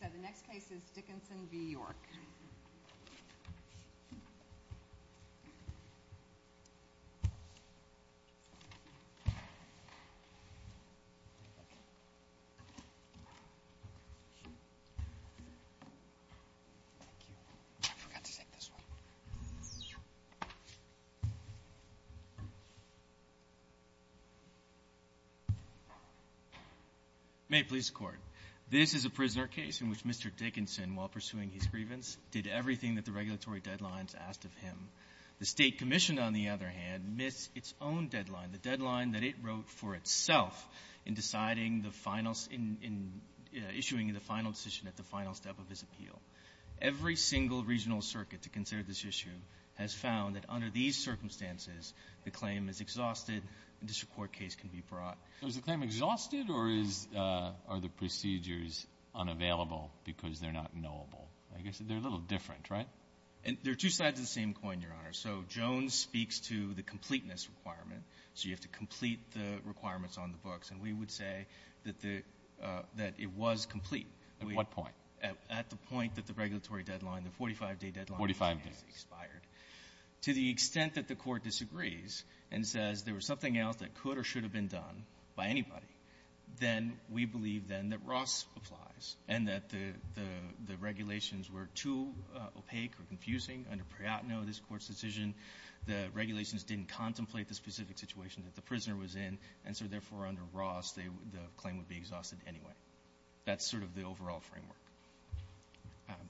So the next case is Dickinson v. York. Thank you. I forgot to take this one. May it please the Court. This is a prisoner case in which Mr. Dickinson, while pursuing his grievance, did everything that the regulatory deadlines asked of him. The State Commission, on the other hand, missed its own deadline, the deadline that it wrote for itself in deciding the final — in issuing the final decision at the final step of his appeal. Every single regional circuit to consider this issue has found that under these circumstances, the claim is exhausted, and this Court case can be brought. So is the claim exhausted, or is — are the procedures unavailable because they're not knowable? I guess they're a little different, right? There are two sides of the same coin, Your Honor. So Jones speaks to the completeness requirement. So you have to complete the requirements on the books. And we would say that the — that it was complete. At what point? At the point that the regulatory deadline, the 45-day deadline, has expired. Forty-five days. To the extent that the Court disagrees and says there was something else that could or should have been done by anybody, then we believe, then, that Ross applies, and that the — the regulations were too opaque or confusing under Priyatno, this Court's decision. The regulations didn't contemplate the specific situation that the prisoner was in, and so, therefore, under Ross, they — the claim would be exhausted anyway. That's sort of the overall framework.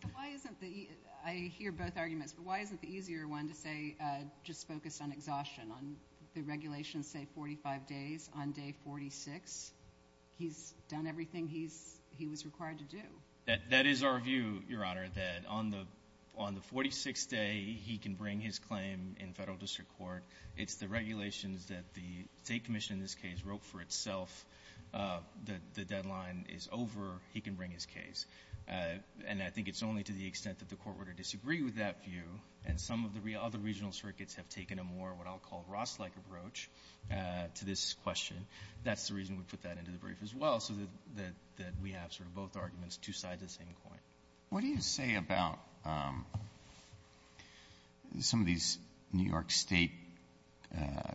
But why isn't the — I hear both arguments, but why isn't the easier one to say, just focus on exhaustion, on the regulations say 45 days, on day 46, he's done everything he's — he was required to do? That — that is our view, Your Honor, that on the — on the 46th day, he can bring his claim in federal district court. It's the regulations that the State Commission, in this case, wrote for itself, that the deadline is over. He can bring his case. And I think it's only to the extent that the Court were to disagree with that view, and some of the other regional circuits have taken a more, what I'll call, Ross-like approach to this question. That's the reason we put that into the brief as well, so that — that we have sort of both arguments, two sides of the same coin. Alitoso, what do you say about some of these New York State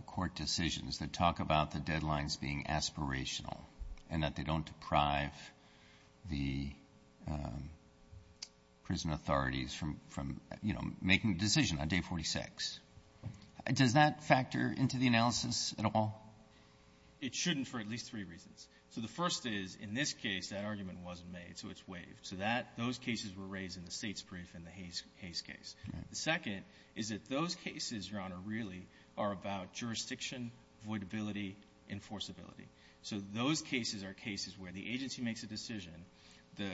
court decisions that talk about the deadlines being aspirational and that they don't deprive the prison authorities from — from, you know, making a decision on day 46? Does that factor into the analysis at all? It shouldn't for at least three reasons. So the first is, in this case, that argument wasn't made, so it's waived. So that — those cases were raised in the States' brief in the Hayes — Hayes case. Right. The second is that those cases, Your Honor, really are about jurisdiction, voidability, enforceability. So those cases are cases where the agency makes a decision, the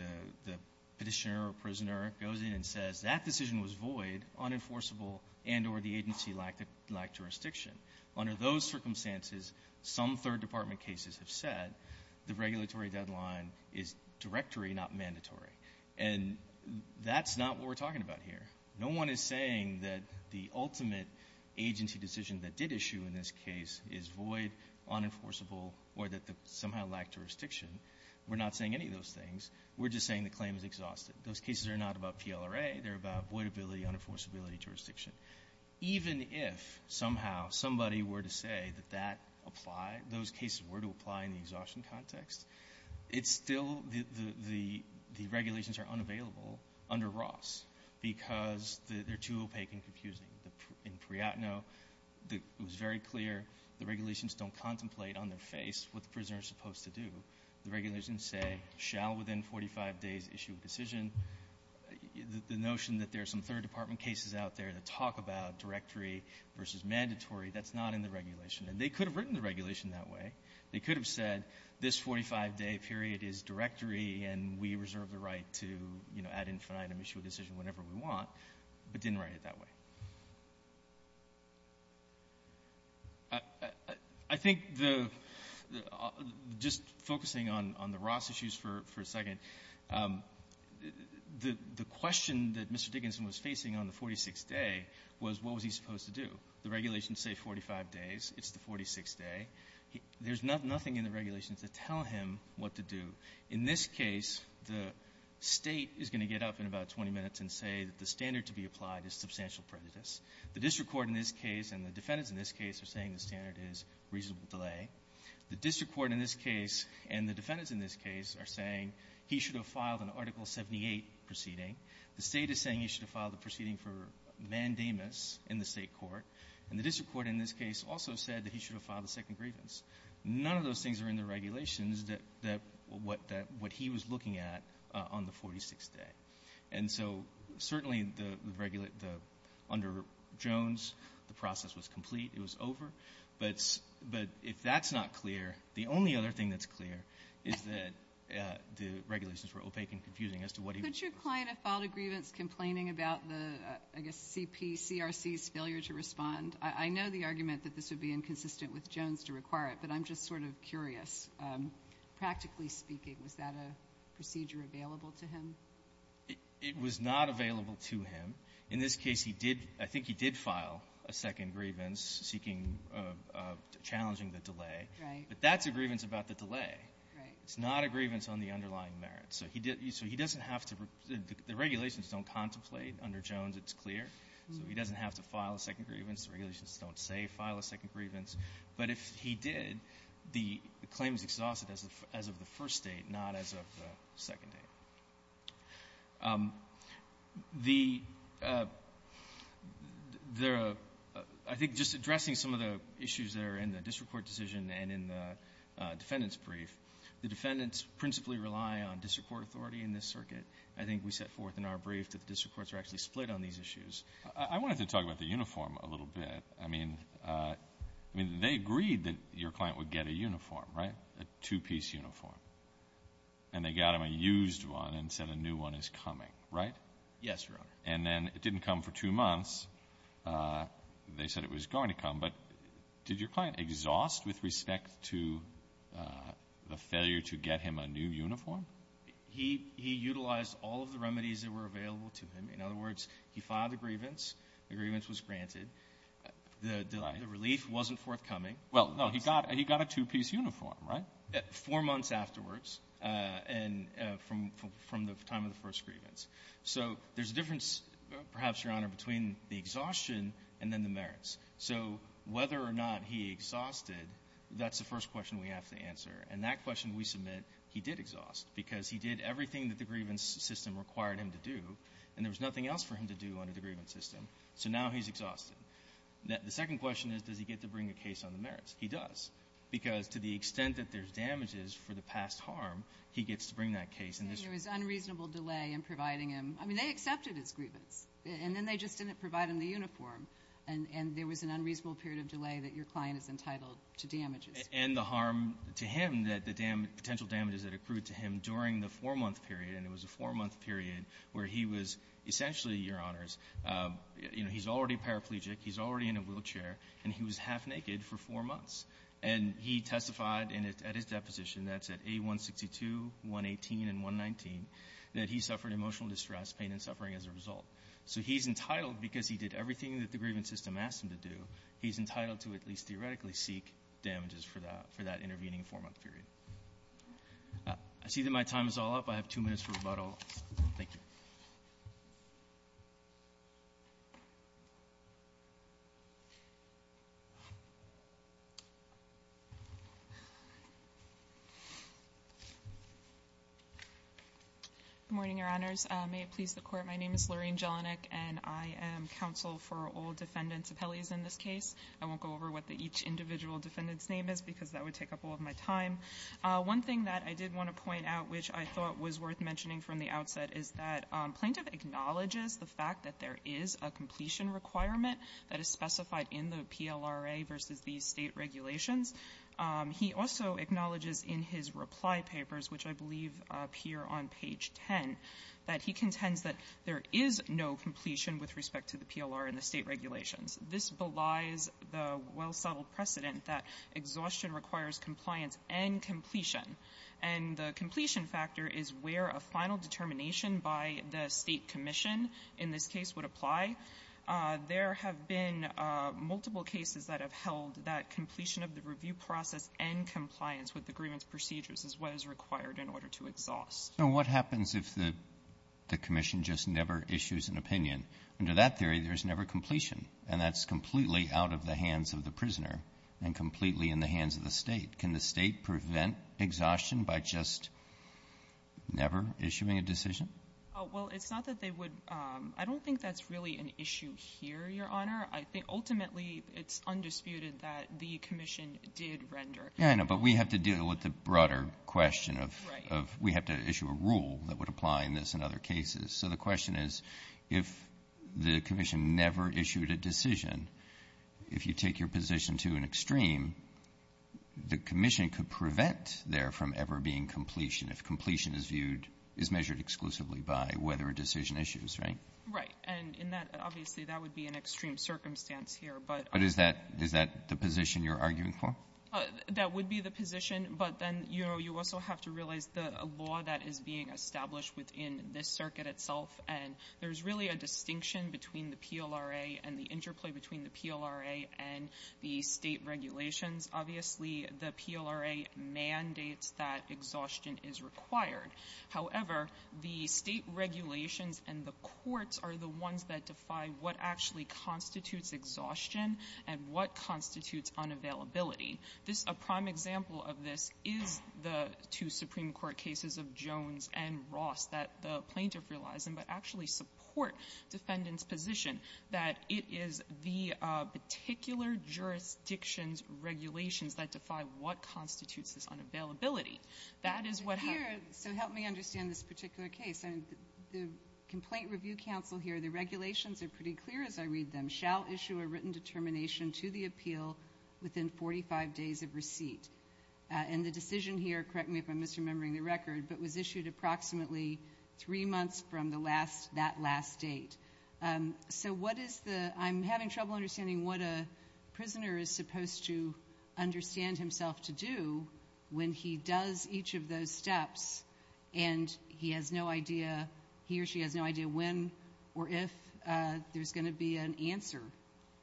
— the petitioner or prisoner goes in and says, that decision was void, unenforceable, and or the agency lacked — lacked jurisdiction. Under those circumstances, some third department cases have said, the regulatory deadline is directory, not mandatory. And that's not what we're talking about here. No one is saying that the ultimate agency decision that did issue in this case is void, unenforceable, or that somehow lacked jurisdiction. We're not saying any of those things. We're just saying the claim is exhausted. Those cases are not about PLRA. They're about voidability, unenforceability, jurisdiction. Even if somehow somebody were to say that that applied — those cases were to apply in the exhaustion context, it's still — the — the regulations are unavailable under Ross because they're too opaque and confusing. In Priyatno, it was very clear the regulations don't contemplate on their face what the prisoner is supposed to do. The regulations say, shall within 45 days issue a decision. The notion that there are some third department cases out there that talk about directory versus mandatory, that's not in the regulation. And they could have written the regulation that way. They could have said this 45-day period is directory, and we reserve the right to, you know, add infinite and issue a decision whenever we want, but didn't write it that way. I think the — just focusing on — on the Ross issues for — for a second, the — the question that Mr. Dickinson was facing on the 46th day was, what was he supposed to do? The regulations say 45 days. There's nothing in the regulations that tell him what to do. In this case, the State is going to get up in about 20 minutes and say that the standard to be applied is substantial prejudice. The district court in this case and the defendants in this case are saying the standard is reasonable delay. The district court in this case and the defendants in this case are saying he should have filed an Article 78 proceeding. The State is saying he should have filed a proceeding for mandamus in the State court. And the district court in this case also said that he should have filed a second grievance. None of those things are in the regulations that — that — what — that — what he was looking at on the 46th day. And so, certainly, the — the — under Jones, the process was complete. It was over. But — but if that's not clear, the only other thing that's clear is that the regulations were opaque and confusing as to what he was — Kagan. Could your client have filed a grievance complaining about the, I guess, CP — CRC's failure to respond? I know the argument that this would be inconsistent with Jones to require it, but I'm just sort of curious. Practically speaking, was that a procedure available to him? It — it was not available to him. In this case, he did — I think he did file a second grievance seeking — challenging the delay. Right. But that's a grievance about the delay. Right. It's not a grievance on the underlying merits. So he didn't — so he doesn't have to — the regulations don't contemplate. Under Jones, it's clear. So he doesn't have to file a second grievance. The regulations don't say file a second grievance. But if he did, the claim is exhausted as of — as of the first date, not as of the second date. The — the — I think just addressing some of the issues that are in the district court decision and in the defendant's brief, the defendants principally rely on district court authority in this circuit. I think we set forth in our brief that the district courts are actually split on these issues. I wanted to talk about the uniform a little bit. I mean — I mean, they agreed that your client would get a uniform, right, a two-piece uniform. And they got him a used one and said a new one is coming, right? Yes, Your Honor. And then it didn't come for two months. They said it was going to come. But did your client exhaust with respect to the failure to get him a new uniform? He — he utilized all of the remedies that were available to him. In other words, he filed a grievance. The grievance was granted. The — the relief wasn't forthcoming. Well, no, he got — he got a two-piece uniform, right? Four months afterwards and from — from the time of the first grievance. So there's a difference, perhaps, Your Honor, between the exhaustion and then the merits. So whether or not he exhausted, that's the first question we have to answer. And that question we submit he did exhaust because he did everything that the grievance system required him to do, and there was nothing else for him to do under the grievance system. So now he's exhausted. The second question is, does he get to bring a case on the merits? He does because to the extent that there's damages for the past harm, he gets to bring that case. And there's — And there was unreasonable delay in providing him — I mean, they accepted his grievance. And then they just didn't provide him the uniform. And — and there was an unreasonable period of delay that your client is entitled to damages. And the harm to him that the potential damages that accrued to him during the four-month period, and it was a four-month period where he was essentially, Your Honors, you know, he's already paraplegic, he's already in a wheelchair, and he was half-naked for four months. And he testified at his deposition, that's at A162, 118, and 119, that he suffered emotional distress, pain, and suffering as a result. So he's entitled, because he did everything that the grievance system asked him to do, he's entitled to at least theoretically seek damages for that — for that intervening four-month period. I see that my time is all up. I have two minutes for rebuttal. Thank you. Good morning, Your Honors. May it please the Court, my name is Lorraine Jelinek, and I am counsel for all defendants of Pele's in this case. I won't go over what the each individual defendant's name is, because that would take up all of my time. One thing that I did want to point out, which I thought was worth mentioning from the outset, is that Plaintiff acknowledges the fact that there is a completion requirement that is specified in the PLRA versus these State regulations. He also acknowledges in his reply papers, which I believe appear on page 10, that he contends that there is no completion with respect to the PLR and the State regulations. This belies the well-settled precedent that exhaustion requires compliance and completion. And the completion factor is where a final determination by the State commission in this case would apply. There have been multiple cases that have held that completion of the review process and compliance with the agreement's procedures is what is required in order to exhaust. Now, what happens if the commission just never issues an opinion? Under that theory, there's never completion, and that's completely out of the hands of the prisoner and completely in the hands of the State. Can the State prevent exhaustion by just never issuing a decision? Well, it's not that they would — I don't think that's really an issue here, Your Honor. I think ultimately it's undisputed that the commission did render. Yeah, I know. But we have to deal with the broader question of — Right. — of we have to issue a rule that would apply in this and other cases. So the question is, if the commission never issued a decision, if you take your position to an extreme, the commission could prevent there from ever being completion if completion is viewed — is measured exclusively by whether a decision issues, right? Right. And in that — obviously, that would be an extreme circumstance here. But — But is that — is that the position you're arguing for? That would be the position. But then, you know, you also have to realize the law that is being established within this circuit itself, and there's really a distinction between the PLRA and the interplay between the PLRA and the State regulations. Obviously, the PLRA mandates that exhaustion is required. However, the State regulations and the courts are the ones that defy what actually constitutes exhaustion and what constitutes unavailability. This — a prime example of this is the two Supreme Court cases of Jones and Ross that the plaintiff realized and would actually support defendant's position, that it is the particular jurisdiction's regulations that defy what constitutes this unavailability. That is what — But here — so help me understand this particular case. The Complaint Review Council here, the regulations are pretty clear as I read them. The defendant shall issue a written determination to the appeal within 45 days of receipt. And the decision here — correct me if I'm misremembering the record — but was issued approximately three months from the last — that last date. So what is the — I'm having trouble understanding what a prisoner is supposed to understand himself to do when he does each of those steps, and he has no idea — he or she has no idea when or if there's going to be an answer.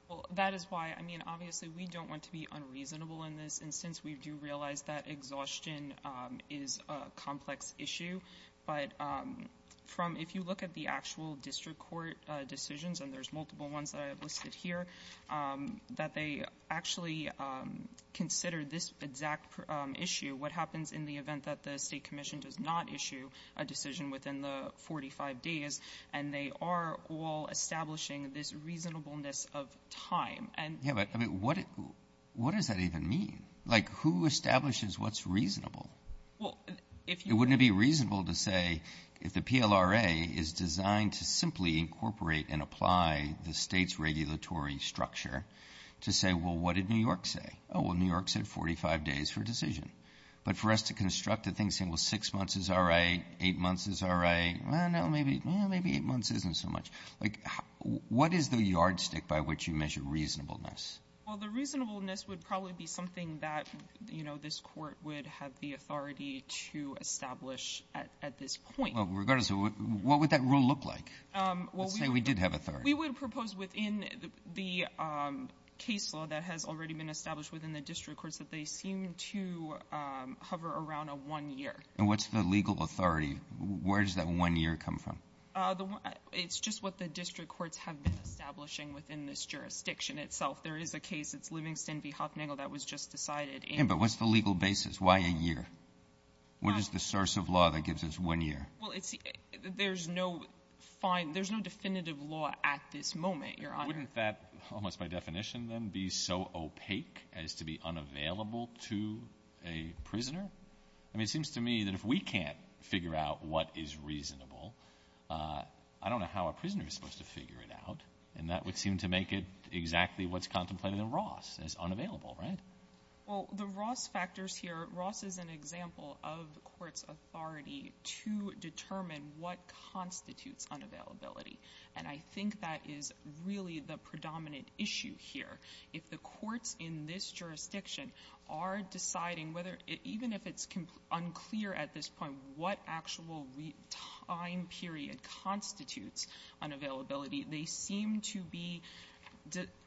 Well, that is why — I mean, obviously, we don't want to be unreasonable in this. And since we do realize that exhaustion is a complex issue, but from — if you look at the actual district court decisions — and there's multiple ones that I have listed here — that they actually consider this exact issue, what happens in the event that the state commission does not issue a decision within the 45 days, and they are all establishing this reasonableness of time. And — Yeah, but — I mean, what does that even mean? Like, who establishes what's reasonable? Well, if — It wouldn't be reasonable to say, if the PLRA is designed to simply incorporate and apply the state's regulatory structure, to say, well, what did New York say? Oh, well, New York said 45 days for a decision. But for us to construct a thing saying, well, six months is all right, eight months is all right — well, no, maybe eight months isn't so much. Like, what is the yardstick by which you measure reasonableness? Well, the reasonableness would probably be something that, you know, this court would have the authority to establish at this point. Well, regardless of — what would that rule look like? Let's say we did have authority. We would propose within the case law that has already been established within the district courts that they seem to hover around a one year. And what's the legal authority? Where does that one year come from? It's just what the district courts have been establishing within this jurisdiction itself. There is a case. It's Livingston v. Hocknagle that was just decided in — Yeah, but what's the legal basis? Why a year? What is the source of law that gives us one year? Well, it's — there's no fine — there's no definitive law at this moment, Your Honor. Wouldn't that, almost by definition, then, be so opaque as to be unavailable to a prisoner? I mean, it seems to me that if we can't figure out what is reasonable, I don't know how a prisoner is supposed to figure it out. And that would seem to make it exactly what's contemplated in Ross, is unavailable, right? Well, the Ross factors here — Ross is an example of the court's authority to determine what constitutes unavailability. And I think that is really the predominant issue here. If the courts in this jurisdiction are deciding whether — even if it's unclear at this point what actual time period constitutes unavailability, they seem to be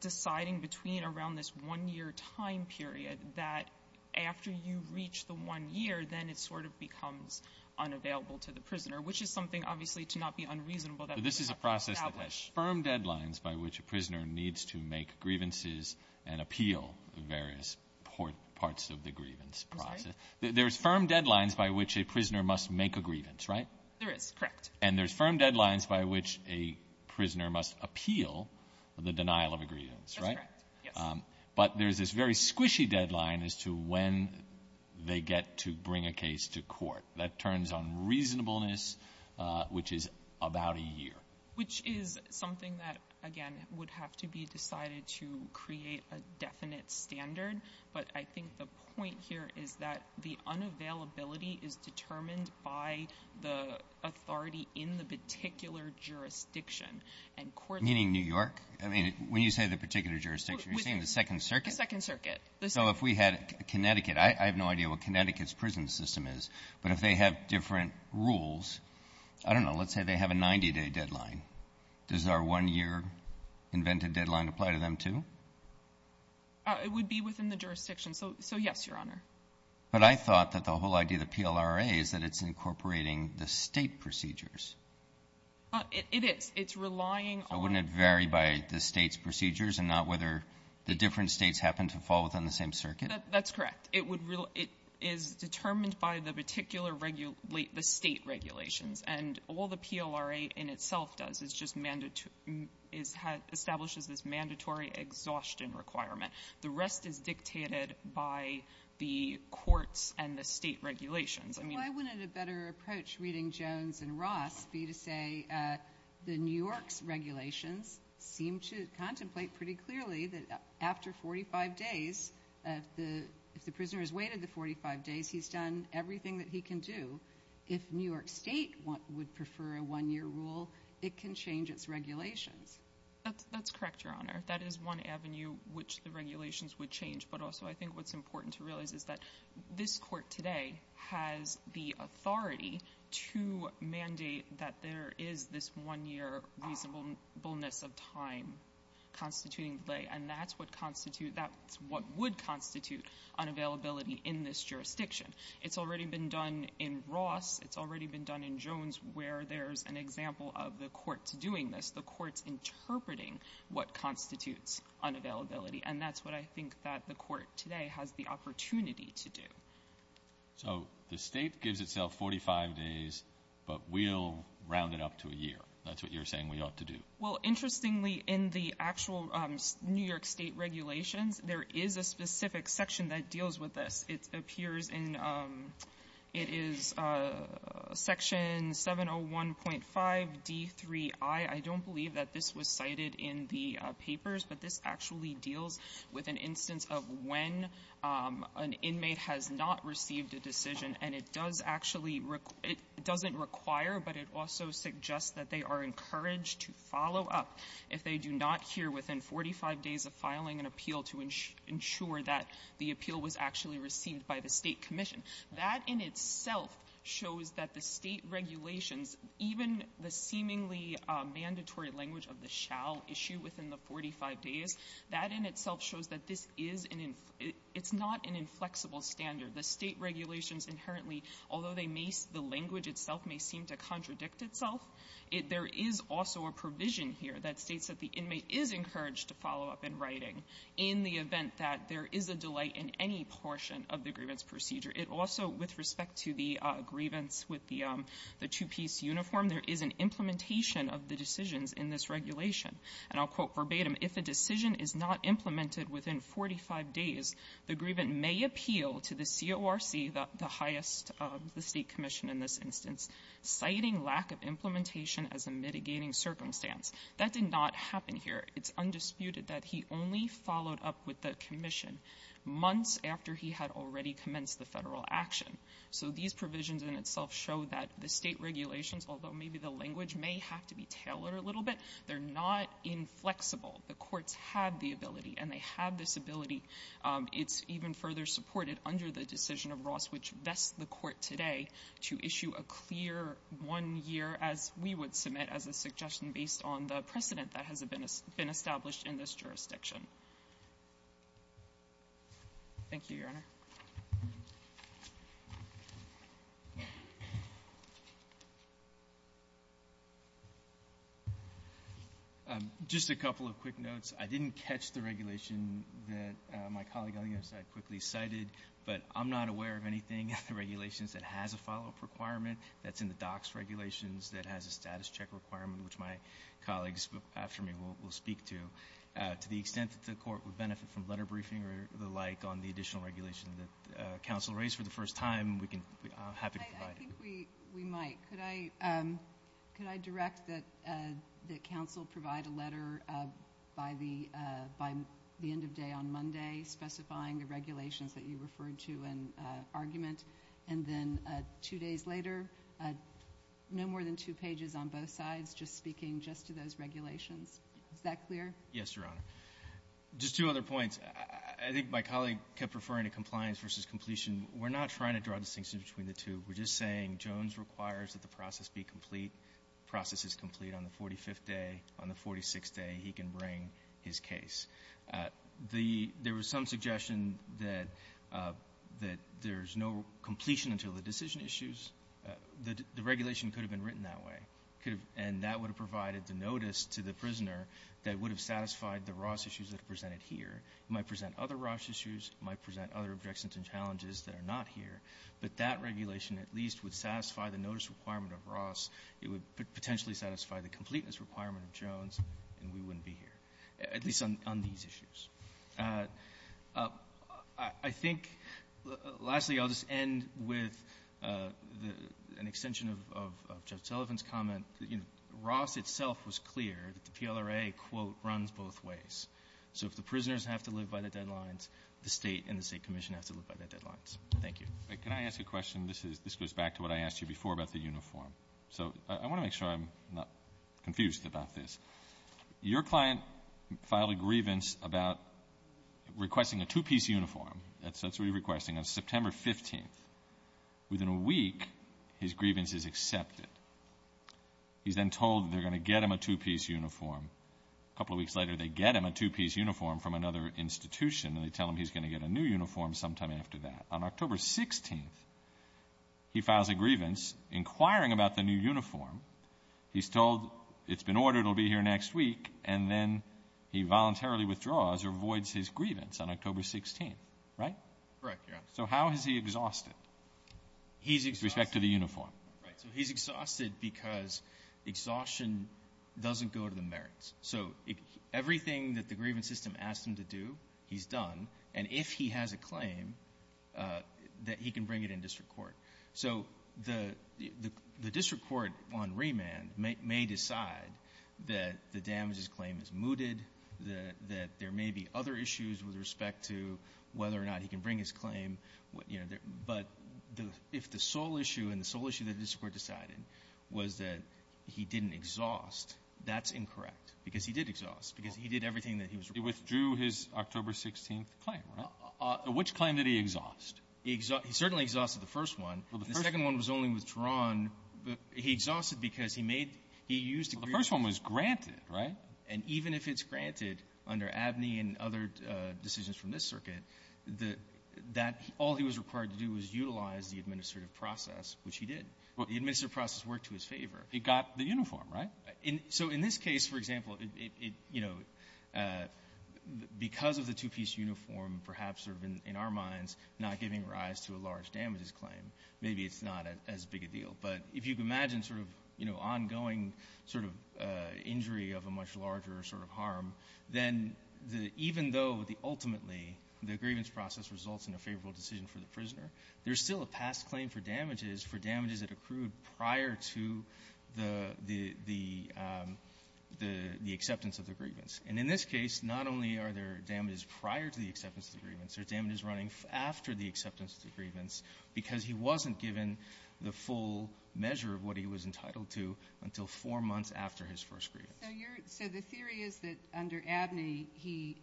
deciding between around this one-year time period that after you reach the one year, then it sort of becomes unavailable to the prisoner, which is something, obviously, to not be unreasonable. But this is a process that has firm deadlines by which a prisoner needs to make grievances and appeal the various parts of the grievance process. There's firm deadlines by which a prisoner must make a grievance, right? There is, correct. And there's firm deadlines by which a prisoner must appeal the denial of a grievance, right? That's correct, yes. But there's this very squishy deadline as to when they get to bring a case to court. That turns on reasonableness, which is about a year. Which is something that, again, would have to be decided to create a definite standard. But I think the point here is that the unavailability is determined by the authority in the particular jurisdiction. And courts — Meaning New York? I mean, when you say the particular jurisdiction, you're saying the Second Circuit? The Second Circuit. So if we had Connecticut — I have no idea what Connecticut's prison system is. But if they have different rules — I don't know. Let's say they have a 90-day deadline. Does our one-year invented deadline apply to them, too? It would be within the jurisdiction. So, yes, Your Honor. But I thought that the whole idea of the PLRA is that it's incorporating the State procedures. It is. It's relying on — So wouldn't it vary by the State's procedures and not whether the different States happen to fall within the same circuit? That's correct. It would — it is determined by the particular — the State regulations. And all the PLRA in itself does is just — establishes this mandatory exhaustion requirement. The rest is dictated by the courts and the State regulations. I mean — Why wouldn't a better approach, reading Jones and Ross, be to say the New York's seem to contemplate pretty clearly that after 45 days, if the prisoner has waited the 45 days, he's done everything that he can do. If New York State would prefer a one-year rule, it can change its regulations. That's correct, Your Honor. That is one avenue which the regulations would change. But also, I think what's important to realize is that this Court today has the authority to mandate that there is this one-year reasonableness of time constituting delay. And that's what constitute — that's what would constitute unavailability in this jurisdiction. It's already been done in Ross. It's already been done in Jones, where there's an example of the courts doing this, the courts interpreting what constitutes unavailability. And that's what I think that the Court today has the opportunity to do. So the State gives itself 45 days, but we'll round it up to a year. That's what you're saying we ought to do. Well, interestingly, in the actual New York State regulations, there is a specific section that deals with this. It appears in — it is Section 701.5d3i. I don't believe that this was cited in the papers, but this actually deals with an instance of when an inmate has not received a decision. And it does actually — it doesn't require, but it also suggests that they are encouraged to follow up if they do not hear within 45 days of filing an appeal to ensure that the appeal was actually received by the State commission. That in itself shows that the State regulations, even the seemingly mandatory language of the shall issue within the 45 days, that in itself shows that this is an — it's not an inflexible standard. The State regulations inherently, although they may — the language itself may seem to contradict itself, there is also a provision here that states that the inmate is encouraged to follow up in writing in the event that there is a delay in any portion of the grievance procedure. It also, with respect to the grievance with the two-piece uniform, there is an implementation of the decisions in this regulation. And I'll quote verbatim, if a decision is not implemented within 45 days, the grievance may appeal to the CORC, the highest — the State commission in this instance, citing lack of implementation as a mitigating circumstance. That did not happen here. It's undisputed that he only followed up with the commission months after he had already commenced the federal action. So these provisions in itself show that the State regulations, although maybe the language may have to be tailored a little bit, they're not inflexible. The courts have the ability, and they have this ability. It's even further supported under the decision of Ross, which vests the Court today to issue a clear one-year, as we would submit, as a suggestion based on the precedent that has been established in this jurisdiction. Thank you, Your Honor. MR. BOUTROUS Just a couple of quick notes. I didn't catch the regulation that my colleague on the other side quickly cited, but I'm not aware of anything in the regulations that has a follow-up requirement that's in the DOCS regulations that has a status check requirement, which my colleagues after me will speak to. To the extent that the Court would benefit from letter briefing or the like on the additional regulation that counsel raised for the first time, I'm happy to provide it. MS. MCCARTHY I think we might. Could I direct that counsel provide a letter by the end of day on Monday specifying the regulations that you referred to in argument, and then two days later, no more than two pages on both sides, just speaking just to those regulations. Is that clear? MR. BOUTROUS Yes, Your Honor. Just two other points. I think my colleague kept referring to compliance versus completion. We're not trying to draw a distinction between the two. We're just saying Jones requires that the process be complete. The process is complete on the 45th day. On the 46th day, he can bring his case. The — there was some suggestion that there's no completion until the decision issues. The regulation could have been written that way. It could have — and that would have provided the notice to the prisoner that would have satisfied the Ross issues that are presented here. It might present other Ross issues. It might present other objections and challenges that are not here. But that regulation at least would satisfy the notice requirement of Ross. It would potentially satisfy the completeness requirement of Jones, and we wouldn't be here, at least on — on these issues. I think — lastly, I'll just end with the — an extension of — of Judge Sullivan's comment that, you know, Ross itself was clear that the PLRA, quote, runs both ways. So if the prisoners have to live by the deadlines, the State and the State commission has to live by the deadlines. Thank you. Alito, can I ask a question? This is — this goes back to what I asked you before about the uniform. So I want to make sure I'm not confused about this. Your client filed a grievance about requesting a two-piece uniform. That's what you're requesting. On September 15th, within a week, his grievance is accepted. He's then told they're going to get him a two-piece uniform. A couple of weeks later, they get him a two-piece uniform from another institution, and they tell him he's going to get a new uniform sometime after that. On October 16th, he files a grievance, inquiring about the new uniform. He's told it's been ordered it'll be here next week, and then he voluntarily withdraws or avoids his grievance on October 16th, right? Correct, Your Honor. So how has he exhausted? He's exhausted. With respect to the uniform. Right. So he's exhausted because exhaustion doesn't go to the merits. So everything that the grievance system asked him to do, he's done. And if he has a claim, that he can bring it in district court. So the district court on remand may decide that the damages claim is mooted, that there may be other issues with respect to whether or not he can bring his claim, you know. But if the sole issue and the sole issue that the district court decided was that he didn't exhaust, that's incorrect, because he did exhaust, because he did everything that he was required to do. He withdrew his October 16th claim, right? Which claim did he exhaust? He certainly exhausted the first one. Well, the first one was only withdrawn. He exhausted because he made he used a grievance. Well, the first one was granted, right? And even if it's granted under Abney and other decisions from this circuit, that all he was required to do was utilize the administrative process, which he did. The administrative process worked to his favor. He got the uniform, right? So in this case, for example, it, you know, because of the two-piece uniform, perhaps sort of in our minds not giving rise to a large damages claim, maybe it's not as big a deal. But if you can imagine sort of, you know, ongoing sort of injury of a much larger sort of harm, then the even though the ultimately the grievance process results in a favorable decision for the prisoner, there's still a past claim for damages, for damages that accrued prior to the the the acceptance of the grievance. And in this case, not only are there damages prior to the acceptance of the grievance, there are damages running after the acceptance of the grievance because he wasn't given the full measure of what he was entitled to until four months after his first grievance. So you're, so the theory is that under Abney, he,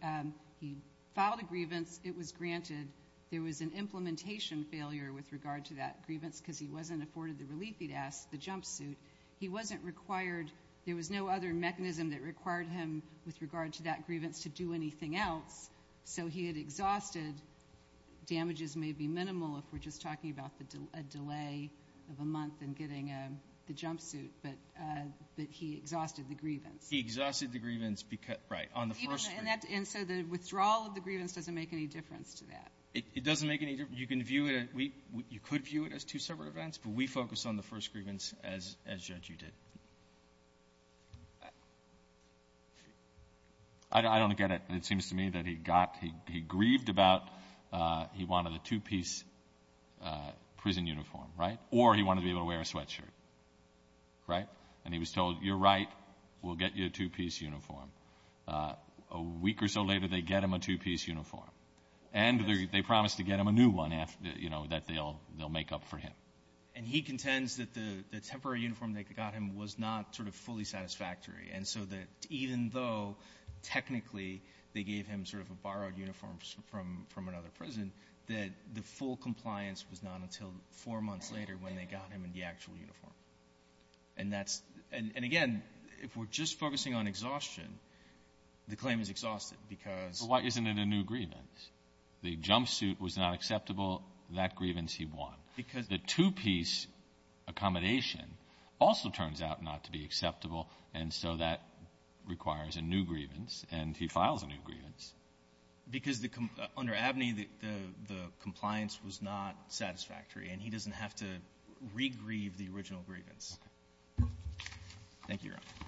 he filed a grievance, it was granted. There was an implementation failure with regard to that grievance because he wasn't afforded the relief he'd asked, the jumpsuit. He wasn't required, there was no other mechanism that required him with regard to that grievance to do anything else. So he had exhausted, damages may be minimal if we're just talking about the delay of a month in getting the jumpsuit, but, but he exhausted the grievance. He exhausted the grievance because, right, on the first grievance. And so the withdrawal of the grievance doesn't make any difference to that. It doesn't make any difference. You can view it, you could view it as two separate events, but we focus on the first grievance as, as Judge, you did. I don't get it. It seems to me that he got, he grieved about, he wanted a two-piece prison uniform, right? Or he wanted to be able to wear a sweatshirt, right? And he was told, you're right, we'll get you a two-piece uniform. A week or so later, they get him a two-piece uniform. And they promised to get him a new one after, you know, that they'll, they'll make up for him. And he contends that the, the temporary uniform they got him was not sort of fully satisfactory. And so that even though technically they gave him sort of a borrowed uniform from, from another prison, that the full compliance was not until four months later when they got him in the actual uniform. And that's, and, and again, if we're just focusing on exhaustion, the claim is exhausted because. But why isn't it a new grievance? The jumpsuit was not acceptable. That grievance he won. Because. The two-piece accommodation also turns out not to be acceptable. And so that requires a new grievance. And he files a new grievance. Because the, under Abney, the, the, the compliance was not satisfactory. And he doesn't have to regrieve the original grievance. Okay. Thank you, Your Honor. All right. Thank you.